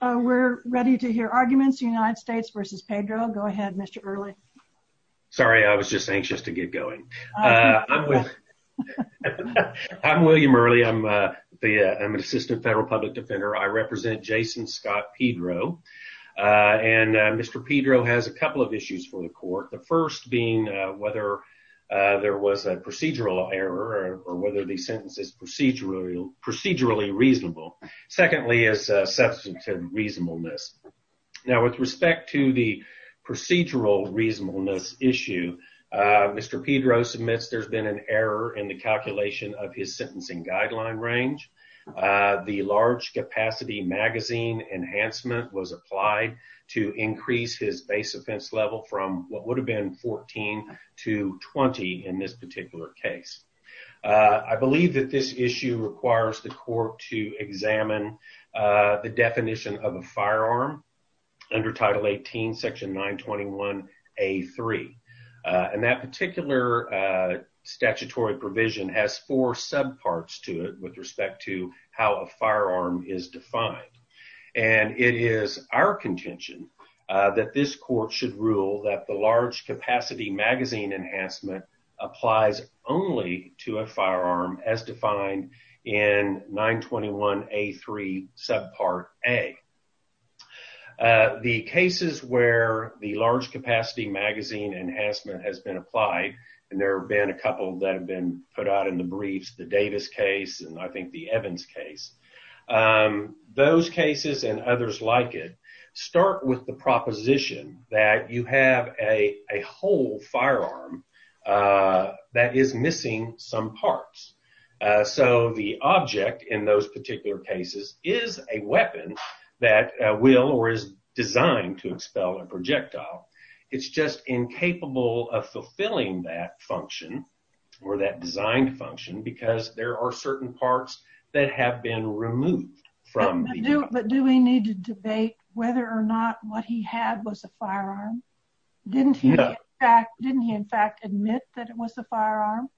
we're ready to hear arguments United States versus Pedro go ahead mr. early sorry I was just anxious to get going I'm William early I'm the I'm an assistant federal public defender I represent Jason Scott Pedro and mr. Pedro has a couple of issues for the court the first being whether there was a procedural error or whether the sentence is procedural procedurally reasonable secondly is substantive reasonableness now with respect to the procedural reasonableness issue mr. Pedro submits there's been an error in the calculation of his sentencing guideline range the large capacity magazine enhancement was applied to increase his base offense level from what would have been 14 to 20 in this particular case I believe that this issue requires the court to examine the definition of a firearm under title 18 section 921 a3 and that particular statutory provision has four sub parts to it with respect to how a firearm is defined and it is our contention that this court should rule that the large capacity magazine enhancement applies only to a firearm as defined in 921 a3 subpart a the cases where the large capacity magazine enhancement has been applied and there have been a couple that have been put out in the briefs the Davis case and I think the Evans case those cases and others like it start with the proposition that you have a a firearm that is missing some parts so the object in those particular cases is a weapon that will or is designed to expel a projectile it's just incapable of fulfilling that function or that design function because there are certain parts that have been removed from but do we need to debate whether or didn't he in fact admit that it was a firearm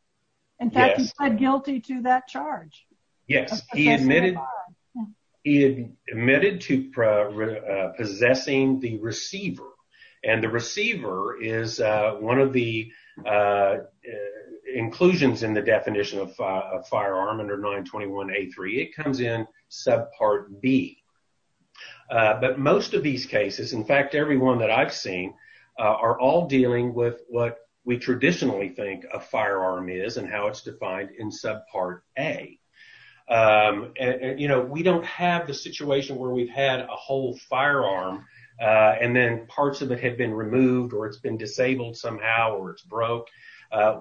and guilty to that charge yes he admitted he admitted to possessing the receiver and the receiver is one of the inclusions in the definition of firearm under 921 a3 it comes in subpart B but most of these cases in fact everyone that I've seen are all dealing with what we traditionally think a firearm is and how it's defined in subpart a you know we don't have the situation where we've had a whole firearm and then parts of it have been removed or it's been disabled somehow or it's broke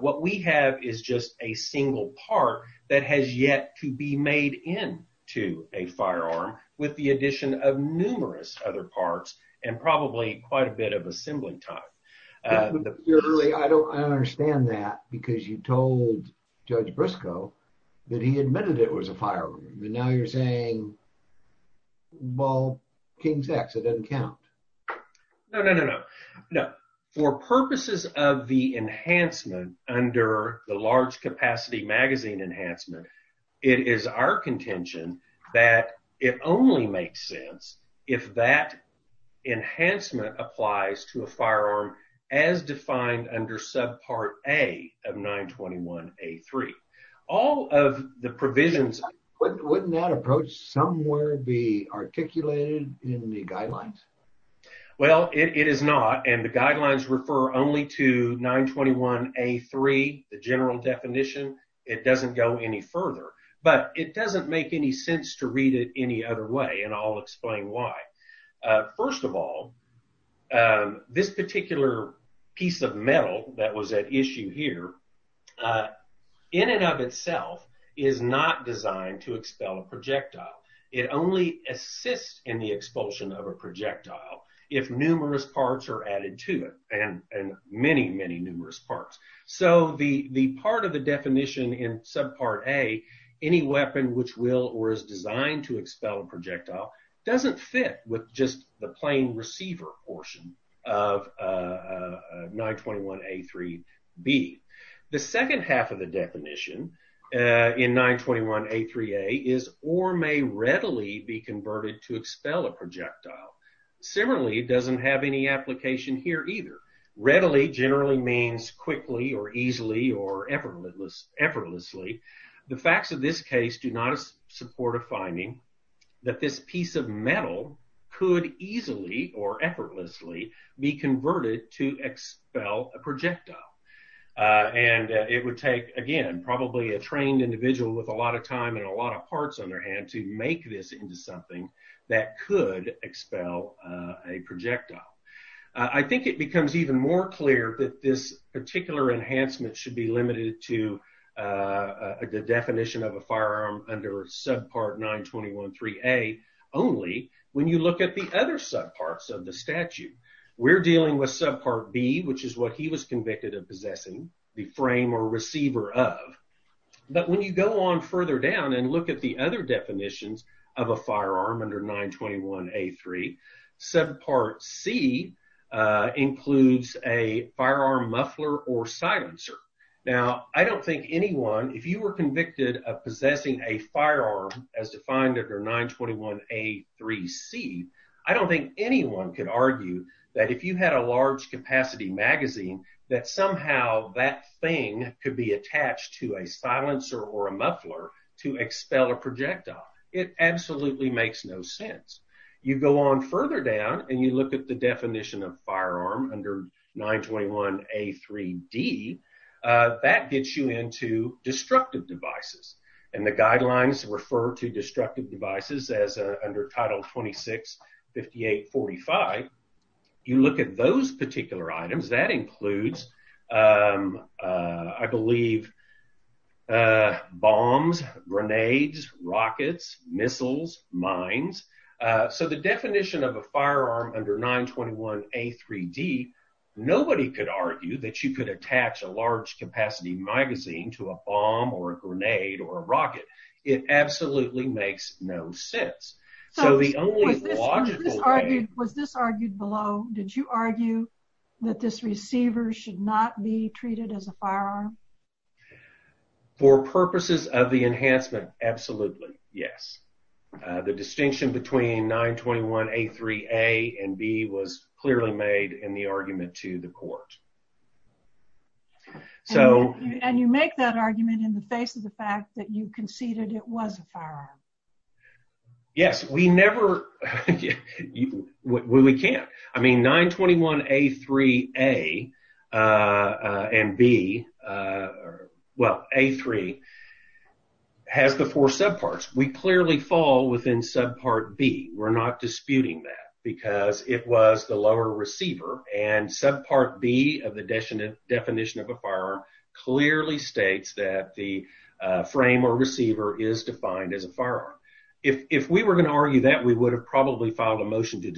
what we have is just a single part that has yet to be made in to a firearm with the other parts and probably quite a bit of assembly time I don't understand that because you told Judge Briscoe that he admitted it was a firearm now you're saying well King's X it doesn't count no no no no no for purposes of the enhancement under the large capacity magazine enhancement it is our contention that it only makes sense if that enhancement applies to a firearm as defined under subpart a of 921 a3 all of the provisions wouldn't that approach somewhere be articulated in the guidelines well it is not and the guidelines refer only to 921 a3 the general definition it doesn't go any sense to read it any other way and I'll explain why first of all this particular piece of metal that was at issue here in and of itself is not designed to expel a projectile it only assists in the expulsion of a projectile if numerous parts are added to it and and many many numerous parts so the the part of the is designed to expel a projectile doesn't fit with just the plain receiver portion of 921 a3 be the second half of the definition in 921 a3 a is or may readily be converted to expel a projectile similarly it doesn't have any application here either readily generally means quickly or easily or effortlessly the facts of this case do not support a finding that this piece of metal could easily or effortlessly be converted to expel a projectile and it would take again probably a trained individual with a lot of time and a lot of parts on their hand to make this into something that could expel a projectile I think it becomes even more clear that this particular enhancement should be limited to a good definition of a firearm under subpart 921 3a only when you look at the other subparts of the statute we're dealing with subpart B which is what he was convicted of possessing the frame or receiver of but when you go on further down and look at the other definitions of a firearm under 921 a3 subpart C includes a firearm muffler or silencer now I don't think anyone if you were convicted of possessing a firearm as defined under 921 a3 C I don't think anyone could argue that if you had a large capacity magazine that somehow that thing could be attached to a silencer or a muffler to expel a projectile it absolutely makes no sense you go on further down and you look at the definition of firearm under 921 a3 D that gets you into destructive devices and the guidelines refer to destructive devices as under title 26 58 45 you look at those particular items that includes I grenades rockets missiles mines so the definition of a firearm under 921 a3 D nobody could argue that you could attach a large capacity magazine to a bomb or a grenade or a rocket it absolutely makes no sense so the only was this argued below did you argue that this receiver should not be treated as a enhancement absolutely yes the distinction between 921 a3 a and B was clearly made in the argument to the court so and you make that argument in the face of the fact that you conceded it was a firearm yes we never we can't I and B well a3 has the four subparts we clearly fall within subpart B we're not disputing that because it was the lower receiver and subpart B of the definition of a firearm clearly states that the frame or receiver is defined as a firearm if we were going to argue that we would have probably filed a motion to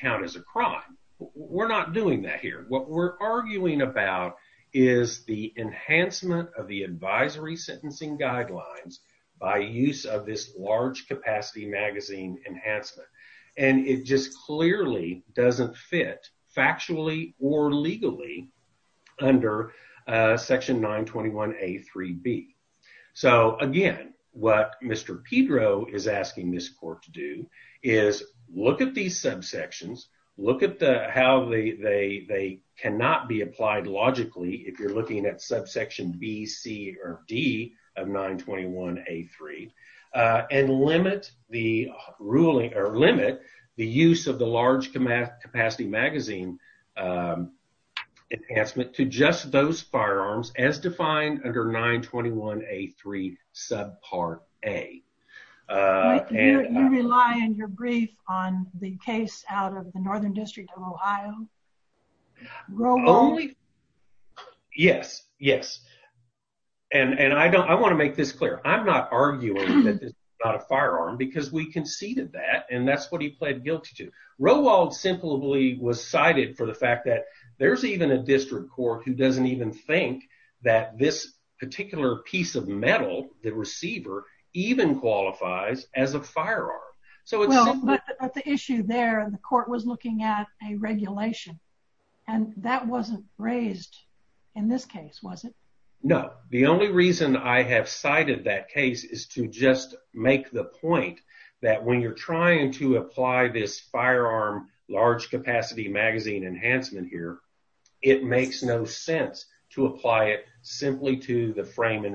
count as a crime we're not doing that here what we're arguing about is the enhancement of the advisory sentencing guidelines by use of this large capacity magazine enhancement and it just clearly doesn't fit factually or legally under section 921 a3 B so again what mr. Pedro is asking this court to do is look at these subsections look at the how they they cannot be applied logically if you're looking at subsection B C or D of 921 a3 and limit the ruling or limit the use of the large command capacity magazine enhancement to just those yes yes and and I don't I want to make this clear I'm not arguing because we conceded that and that's what he pled guilty to Roald simply was cited for the fact that there's even a district court who doesn't even think that this particular piece of metal the receiver even qualifies as a firearm so it's the issue there and the court was looking at a regulation and that wasn't raised in this case was it no the only reason I have cited that case is to just make the point that when you're trying to apply this firearm large capacity magazine enhancement here it makes no sense to apply it simply to the frame and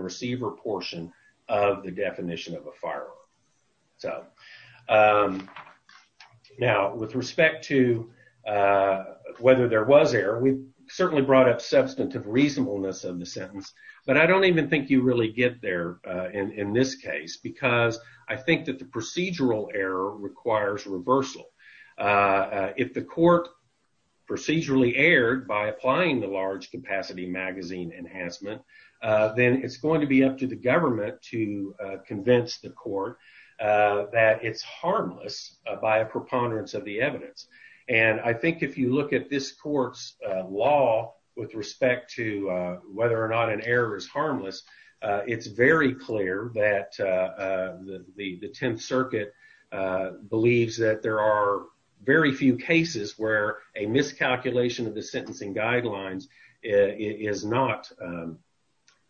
now with respect to whether there was error we certainly brought up substantive reasonableness of the sentence but I don't even think you really get there in this case because I think that the procedural error requires reversal if the court procedurally aired by applying the large capacity magazine enhancement then it's going to be up to the government to convince the court that it's harmless by a preponderance of the evidence and I think if you look at this court's law with respect to whether or not an error is harmless it's very clear that the the Tenth Circuit believes that there are very few cases where a miscalculation of the sentencing guidelines is not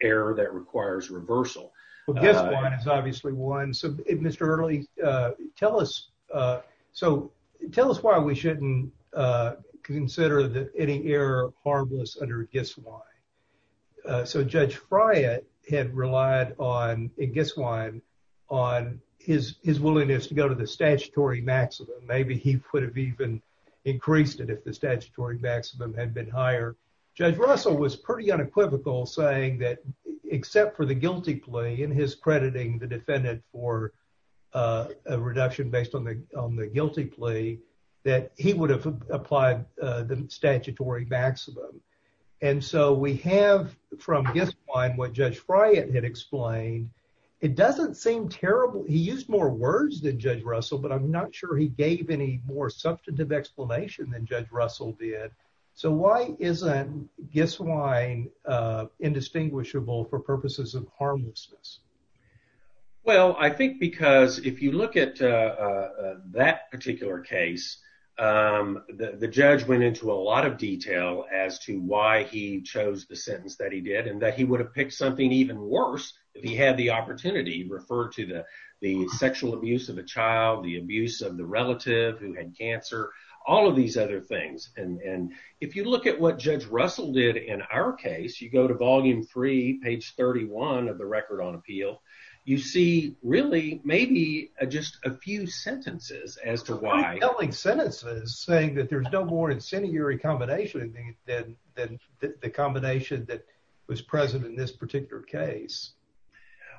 error that requires reversal well guess one is obviously one so mr. Hurley tell us so tell us why we shouldn't consider that any error harmless under a guess why so judge Friant had relied on a guess wine on his his willingness to go to the statutory maximum maybe he would have even increased it if the statutory maximum had been higher judge Russell was pretty unequivocal saying that except for the guilty plea in his crediting the defendant for a reduction based on the guilty plea that he would have applied the statutory maximum and so we have from guess wine what judge Friant had explained it doesn't seem terrible he used more words than judge Russell but I'm not sure he gave any more substantive explanation than judge Russell did so why isn't guess wine indistinguishable for purposes of harmlessness well I think because if you look at that particular case the judge went into a lot of detail as to why he chose the sentence that he did and that he would have picked something even worse if he had the opportunity referred to the the sexual abuse of a child the abuse of the relative who had cancer all of these other things and and if you look at what page 31 of the record on appeal you see really maybe just a few sentences as to why sentences saying that there's no more incendiary combination than the combination that was present in this particular case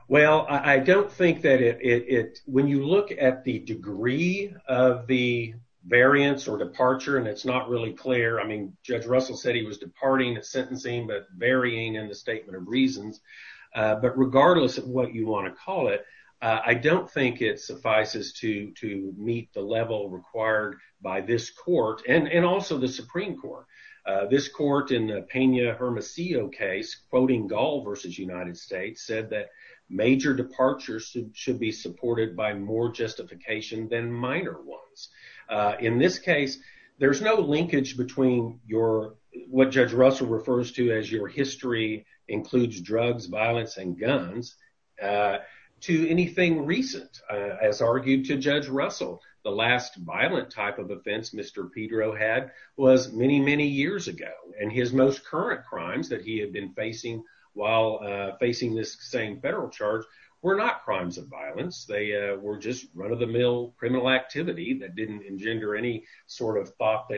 well I don't think that it when you look at the degree of the variance or departure and it's not really clear I mean judge Russell said he was departing at sentencing but varying in the statement of reasons but regardless of what you want to call it I don't think it suffices to to meet the level required by this court and and also the Supreme Court this court in the Pena Hermosillo case quoting Gaul versus United States said that major departures should be supported by more justification than minor ones in this case there's no linkage between your what judge Russell refers to as your history includes drugs violence and guns to anything recent as argued to judge Russell the last violent type of offense mr. Pedro had was many many years ago and his most current crimes that he had been facing while facing this same federal charge were not crimes of violence they were just run-of-the-mill criminal activity that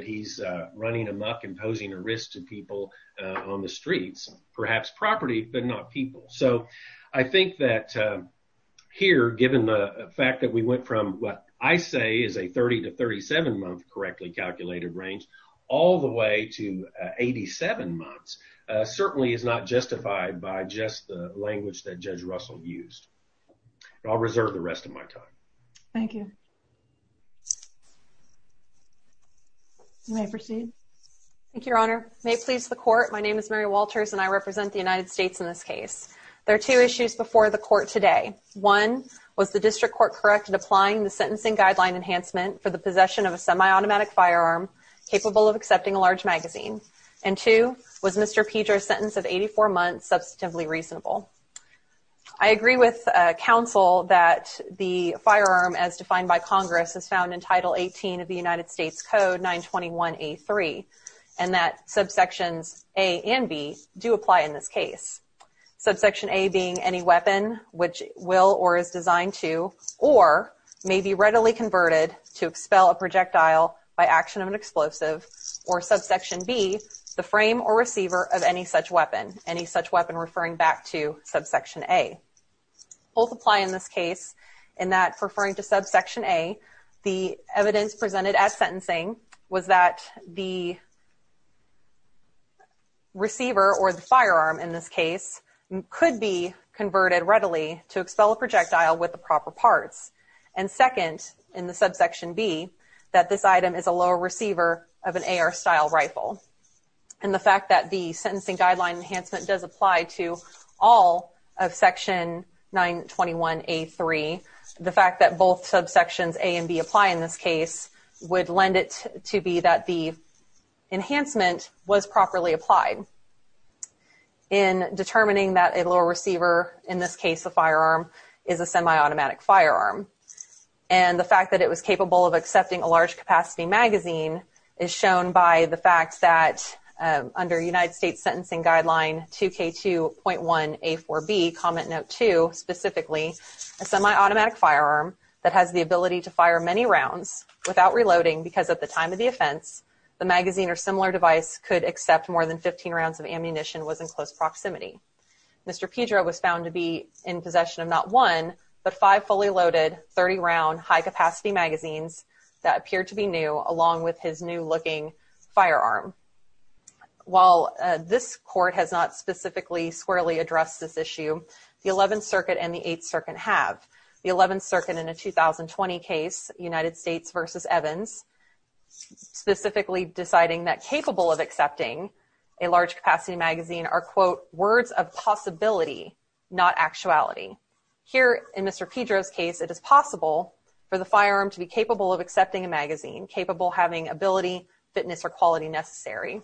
he's running amok imposing a risk to people on the streets perhaps property but not people so I think that here given the fact that we went from what I say is a 30 to 37 month correctly calculated range all the way to 87 months certainly is not justified by just the language that judge Russell used I'll reserve the rest of my time thank you may proceed your honor may please the court my name is Mary Walters and I represent the United States in this case there are two issues before the court today one was the district court corrected applying the sentencing guideline enhancement for the possession of a semi-automatic firearm capable of accepting a large magazine and two was mr. Pedro sentence of 84 months substantively reasonable I agree with counsel that the firearm as defined by Congress is found in title 18 of the United States Code 921 a 3 and that subsections a and b do apply in this case subsection a being any weapon which will or is designed to or may be readily converted to expel a projectile by action of an explosive or subsection be the frame or receiver of any such weapon any such weapon referring back to subsection a both apply in this case in that referring to subsection a the evidence presented at sentencing was that the receiver or the firearm in this case could be converted readily to expel a projectile with the proper parts and second in the subsection B that this item is a lower receiver of an AR style rifle and the fact that the sentencing guideline enhancement does apply to all of section 921 a 3 the fact that both subsections a and b apply in this case would lend it to be that the enhancement was properly applied in determining that it will receiver in this case the firearm is a semi-automatic firearm and the fact that it was capable of accepting a large capacity magazine is fact that under United States sentencing guideline 2k 2.1 a 4b comment note to specifically semi-automatic firearm that has the ability to fire many rounds without reloading because at the time of the offense the magazine or similar device could accept more than 15 rounds of ammunition was in close proximity mr. Pedro was found to be in possession of not one but five fully loaded 30 round high-capacity magazines that appear to be new along with his new looking firearm while this court has not specifically squarely address this issue the 11th Circuit and the 8th Circuit have the 11th Circuit in a 2020 case United States versus Evans specifically deciding that capable of accepting a large capacity magazine are quote words of possibility not actuality here in mr. Pedro's case it is possible for the firearm to be capable of fitness or quality necessary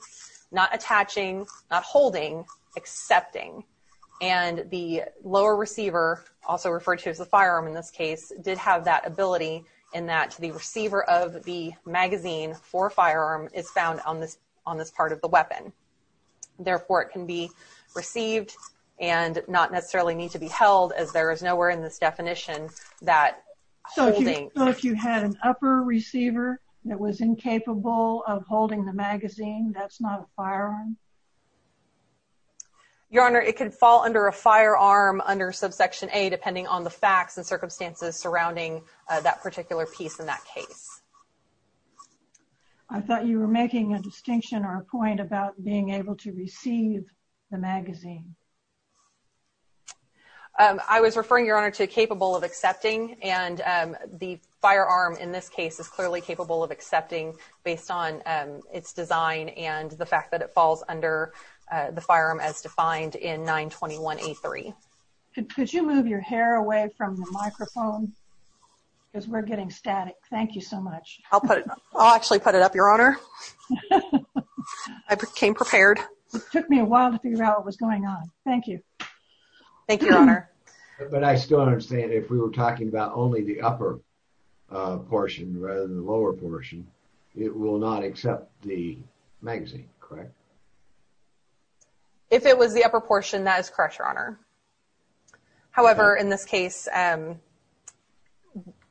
not attaching not holding accepting and the lower receiver also referred to as the firearm in this case did have that ability in that the receiver of the magazine for firearm is found on this on this part of the weapon therefore it can be received and not necessarily need to be held as there is nowhere in this definition that so if you had an upper receiver that was incapable of holding the magazine that's not a firearm your honor it could fall under a firearm under subsection a depending on the facts and circumstances surrounding that particular piece in that case I thought you were making a distinction or a point about being able to receive the magazine I was referring your honor to capable of accepting and the firearm in this case is clearly capable of accepting based on its design and the fact that it falls under the firearm as defined in 921 a3 could you move your hair away from the microphone because we're getting static thank you so much I'll put it I'll actually put it up your honor I became prepared it took me a while to figure out what was going on thank you thank you honor but I still understand if we were talking about only the upper portion rather than the lower portion it will not accept the magazine correct if it was the upper portion that is correct your honor however in this case and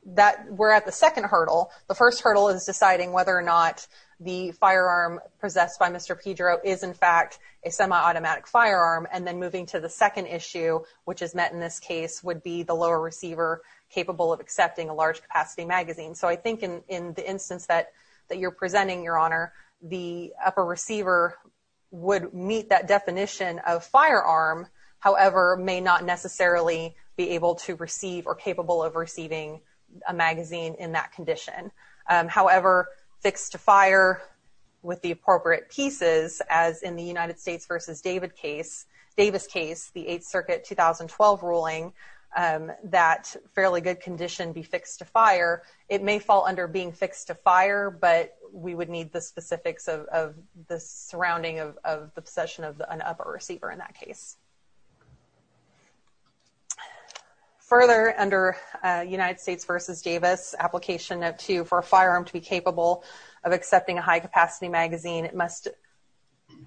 that we're at the second hurdle the first hurdle is deciding whether or not the firearm possessed by mr. Pedro is in fact a semi-automatic firearm and then moving to the second issue which is met in this case would be the lower receiver capable of accepting a large capacity magazine so I think in in the instance that that you're presenting your honor the upper receiver would meet that definition of firearm however may not necessarily be able to receive or capable of receiving a magazine in that condition however fixed to fire with the appropriate pieces as in the United Circuit 2012 ruling that fairly good condition be fixed to fire it may fall under being fixed to fire but we would need the specifics of the surrounding of the possession of an upper receiver in that case further under United States versus Davis application of two for a firearm to be capable of accepting a high-capacity magazine it must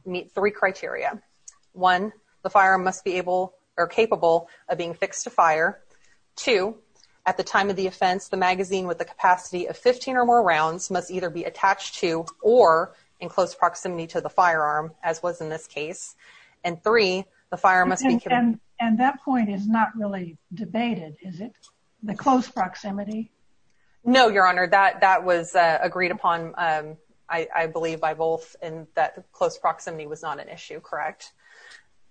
meet three criteria one the firearm must be capable or capable of being fixed to fire two at the time of the offense the magazine with the capacity of 15 or more rounds must either be attached to or in close proximity to the firearm as was in this case and three the firearm and that point is not really debated is it the close proximity no your honor that that was agreed upon I believe by both and that close proximity was not an issue correct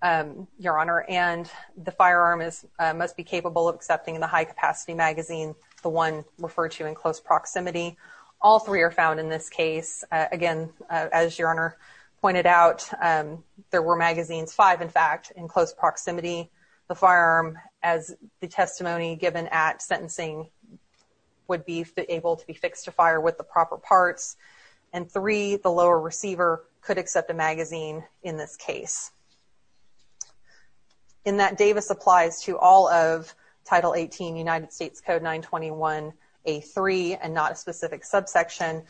your honor and the firearm is must be capable of accepting the high-capacity magazine the one referred to in close proximity all three are found in this case again as your honor pointed out there were magazines five in fact in close proximity the firearm as the testimony given at sentencing would be able to be fixed to fire with the proper parts and three the lower receiver could accept a magazine in this case in that Davis applies to all of title 18 United States code 921 a3 and not a specific subsection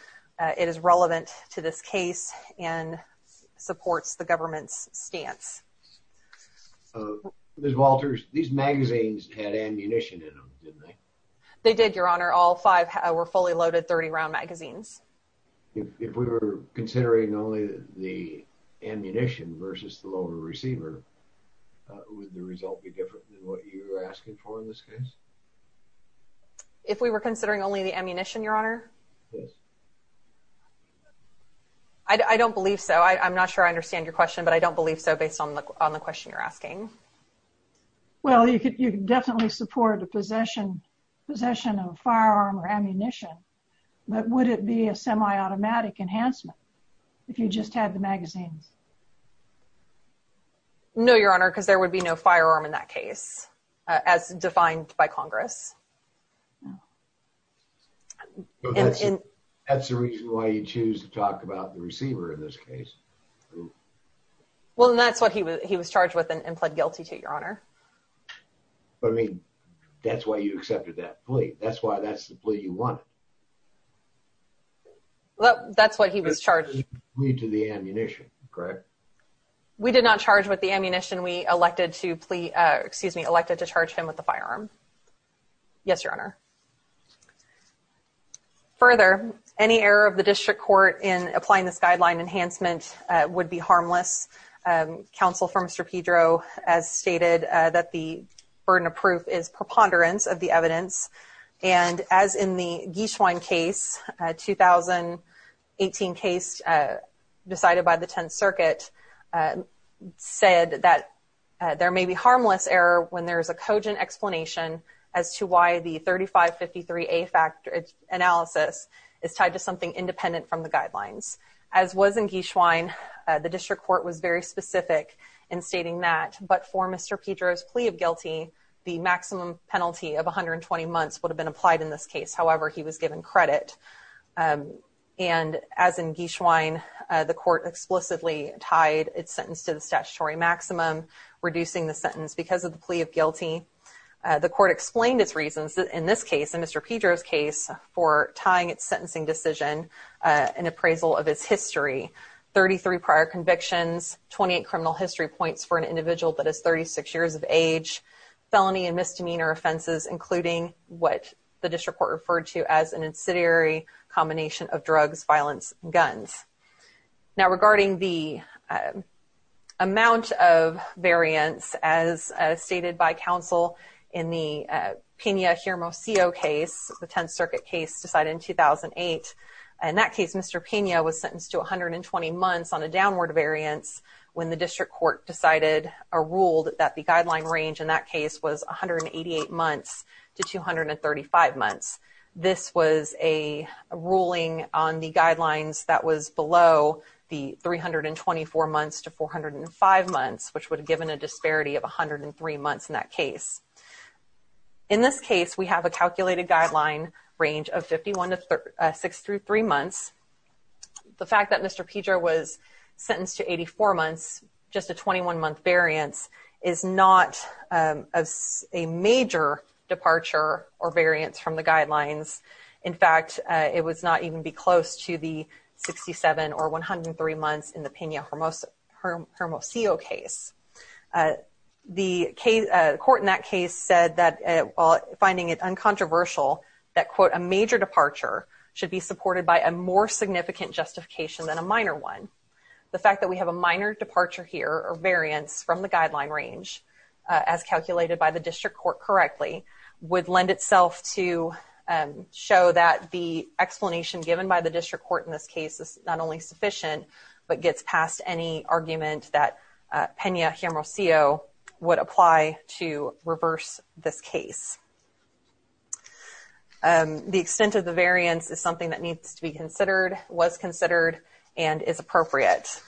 it is relevant to this case and supports the government's stance there's Walters these magazines had ammunition in them didn't they they did your honor all five were fully loaded 30 round magazines if we were considering only the ammunition versus the lower receiver would the result be different than what you're asking for in this case if we were considering only the ammunition your honor yes I don't believe so I'm not sure I understand your question but I don't believe so based on the question you're asking well you could you definitely support the possession possession of firearm or ammunition but would it be a semi-automatic enhancement if you just had the magazines no your honor because there would be no firearm in that case as defined by Congress that's the reason why you choose to talk about the receiver in this case well that's what he was he was charged with and pled guilty to your honor I mean that's why you accepted that plea that's why that's the plea you want well that's what he was charged me to the ammunition correct we did not charge with the ammunition we elected to plea excuse me elected to charge him with the firearm yes your honor further any error of the district court in applying this guideline enhancement would be harmless counsel for mr. Pedro as stated that the burden of proof is preponderance of the evidence and as in the geeshwine case 2018 case decided by the 10th Circuit said that there may be harmless error when there is a cogent explanation as to why the 3553 a factor it's analysis is in geeshwine the district court was very specific in stating that but for mr. Pedro's plea of guilty the maximum penalty of 120 months would have been applied in this case however he was given credit and as in geeshwine the court explicitly tied its sentence to the statutory maximum reducing the sentence because of the plea of guilty the court explained its reasons in this case in mr. Pedro's case for tying its sentencing decision an appraisal of his history 33 prior convictions 28 criminal history points for an individual that is 36 years of age felony and misdemeanor offenses including what the district court referred to as an insidiary combination of drugs violence guns now regarding the amount of variance as stated by counsel in the Kenya here most co case the 10th Circuit case decided in 2008 and that mr. Pena was sentenced to 120 months on a downward variance when the district court decided a ruled that the guideline range in that case was 188 months to 235 months this was a ruling on the guidelines that was below the 324 months to 405 months which would have given a disparity of a hundred and three months in that case in this case we have a calculated guideline range of 51 to 6 through 3 months the fact that mr. Pedro was sentenced to 84 months just a 21 month variance is not as a major departure or variance from the guidelines in fact it was not even be close to the 67 or 103 months in the Pena Hermos Hermosillo case the case court in that case said that while finding it uncontroversial that quote a major departure should be supported by a more significant justification than a minor one the fact that we have a minor departure here or variance from the guideline range as calculated by the district court correctly would lend itself to show that the explanation given by the district court in this case is not only sufficient but gets past any argument that Pena Hermosillo would apply to reverse this case the extent of the variance is something that needs to be considered was considered and is appropriate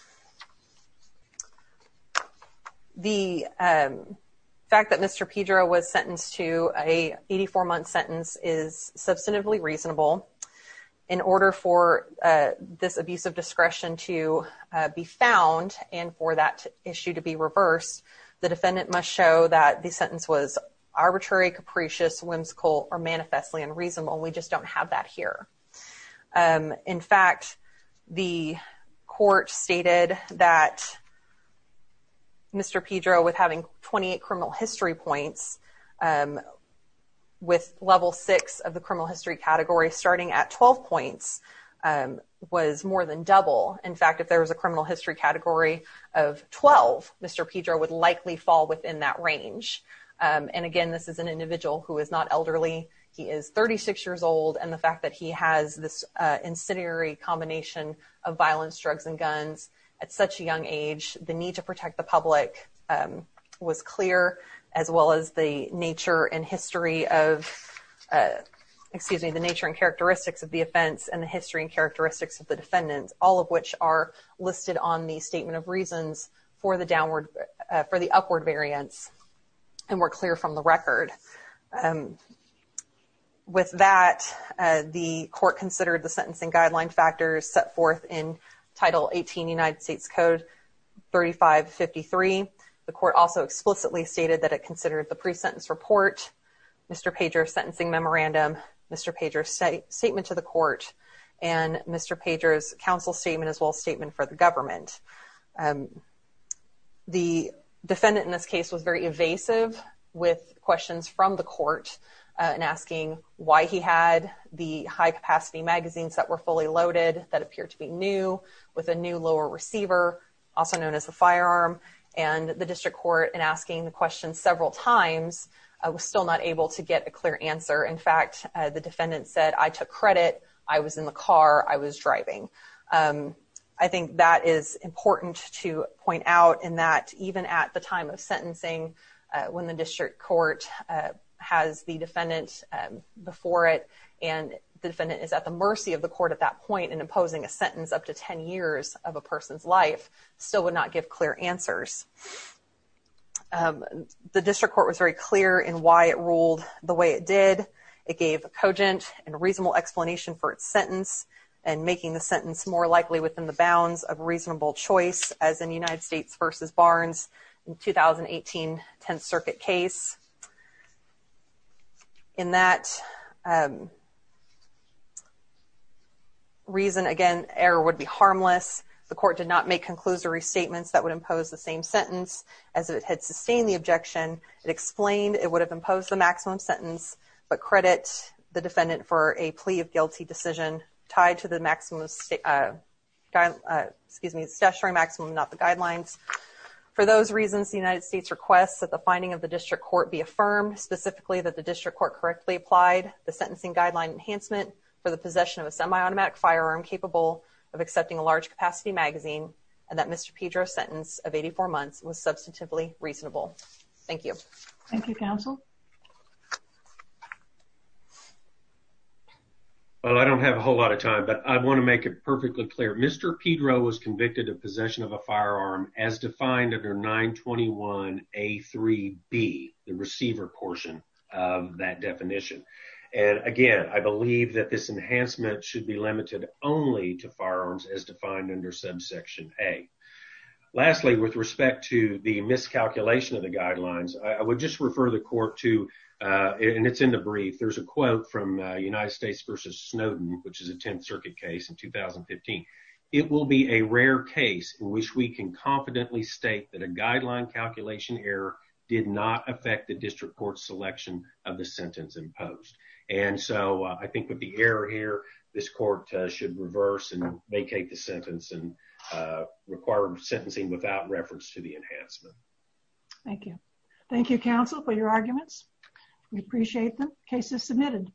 the fact that mr. Pedro was sentenced to a 84 month sentence is and for that issue to be reversed the defendant must show that the sentence was arbitrary capricious whimsical or manifestly unreasonable we just don't have that here in fact the court stated that mr. Pedro with having 28 criminal history points with level 6 of the criminal history category starting at 12 points was more than double in fact if there was a criminal history category of 12 mr. Pedro would likely fall within that range and again this is an individual who is not elderly he is 36 years old and the fact that he has this incendiary combination of violence drugs and guns at such a young age the need to protect the public was clear as well as the nature and history of excuse me the nature and characteristics of the offense and the history and characteristics of the defendants all of which are listed on the statement of reasons for the downward for the upward variance and we're clear from the record with that the court considered the sentencing guideline factors set forth in title 18 United States Code 3553 the court also explicitly stated that it considered the pre-sentence report mr. pager sentencing memorandum mr. pagers state statement to the court and mr. pagers counsel statement as well for the government the defendant in this case was very evasive with questions from the court and asking why he had the high-capacity magazines that were fully loaded that appeared to be new with a new lower receiver also known as a firearm and the district court and asking the question several times I was still not able to get a clear answer in fact the defendant said I took credit I was in the car I was driving I think that is important to point out in that even at the time of sentencing when the district court has the defendant before it and the defendant is at the mercy of the court at that point and imposing a sentence up to ten years of a person's life still would not give clear answers the district court was very clear in why it ruled the way it did it gave a cogent and reasonable explanation for its sentence and making the sentence more likely within the bounds of reasonable choice as in United States vs. Barnes in 2018 10th Circuit case in that reason again error would be harmless the court did not make conclusory statements that would impose the same sentence as it had sustained the objection it explained it would have imposed the maximum sentence but credit the defendant for a plea of guilty decision tied to the maximum excuse me the statutory maximum not the guidelines for those reasons the United States requests that the finding of the district court be affirmed specifically that the district court correctly applied the sentencing guideline enhancement for the possession of a semi-automatic firearm capable of accepting a large capacity magazine and that mr. Pedro sentence of 84 months was I don't have a whole lot of time but I want to make it perfectly clear mr. Pedro was convicted of possession of a firearm as defined under 921 a 3b the receiver portion of that definition and again I believe that this enhancement should be limited only to firearms as defined under subsection a lastly with respect to the miscalculation of the guidelines I would just refer the court to and it's in the brief there's a quote from United States versus Snowden which is a 10th Circuit case in 2015 it will be a rare case in which we can confidently state that a guideline calculation error did not affect the district court selection of the sentence imposed and so I think with the error here this court should reverse and vacate the sentence and require sentencing without reference to the enhancement thank you thank you counsel for your arguments we appreciate the cases submitted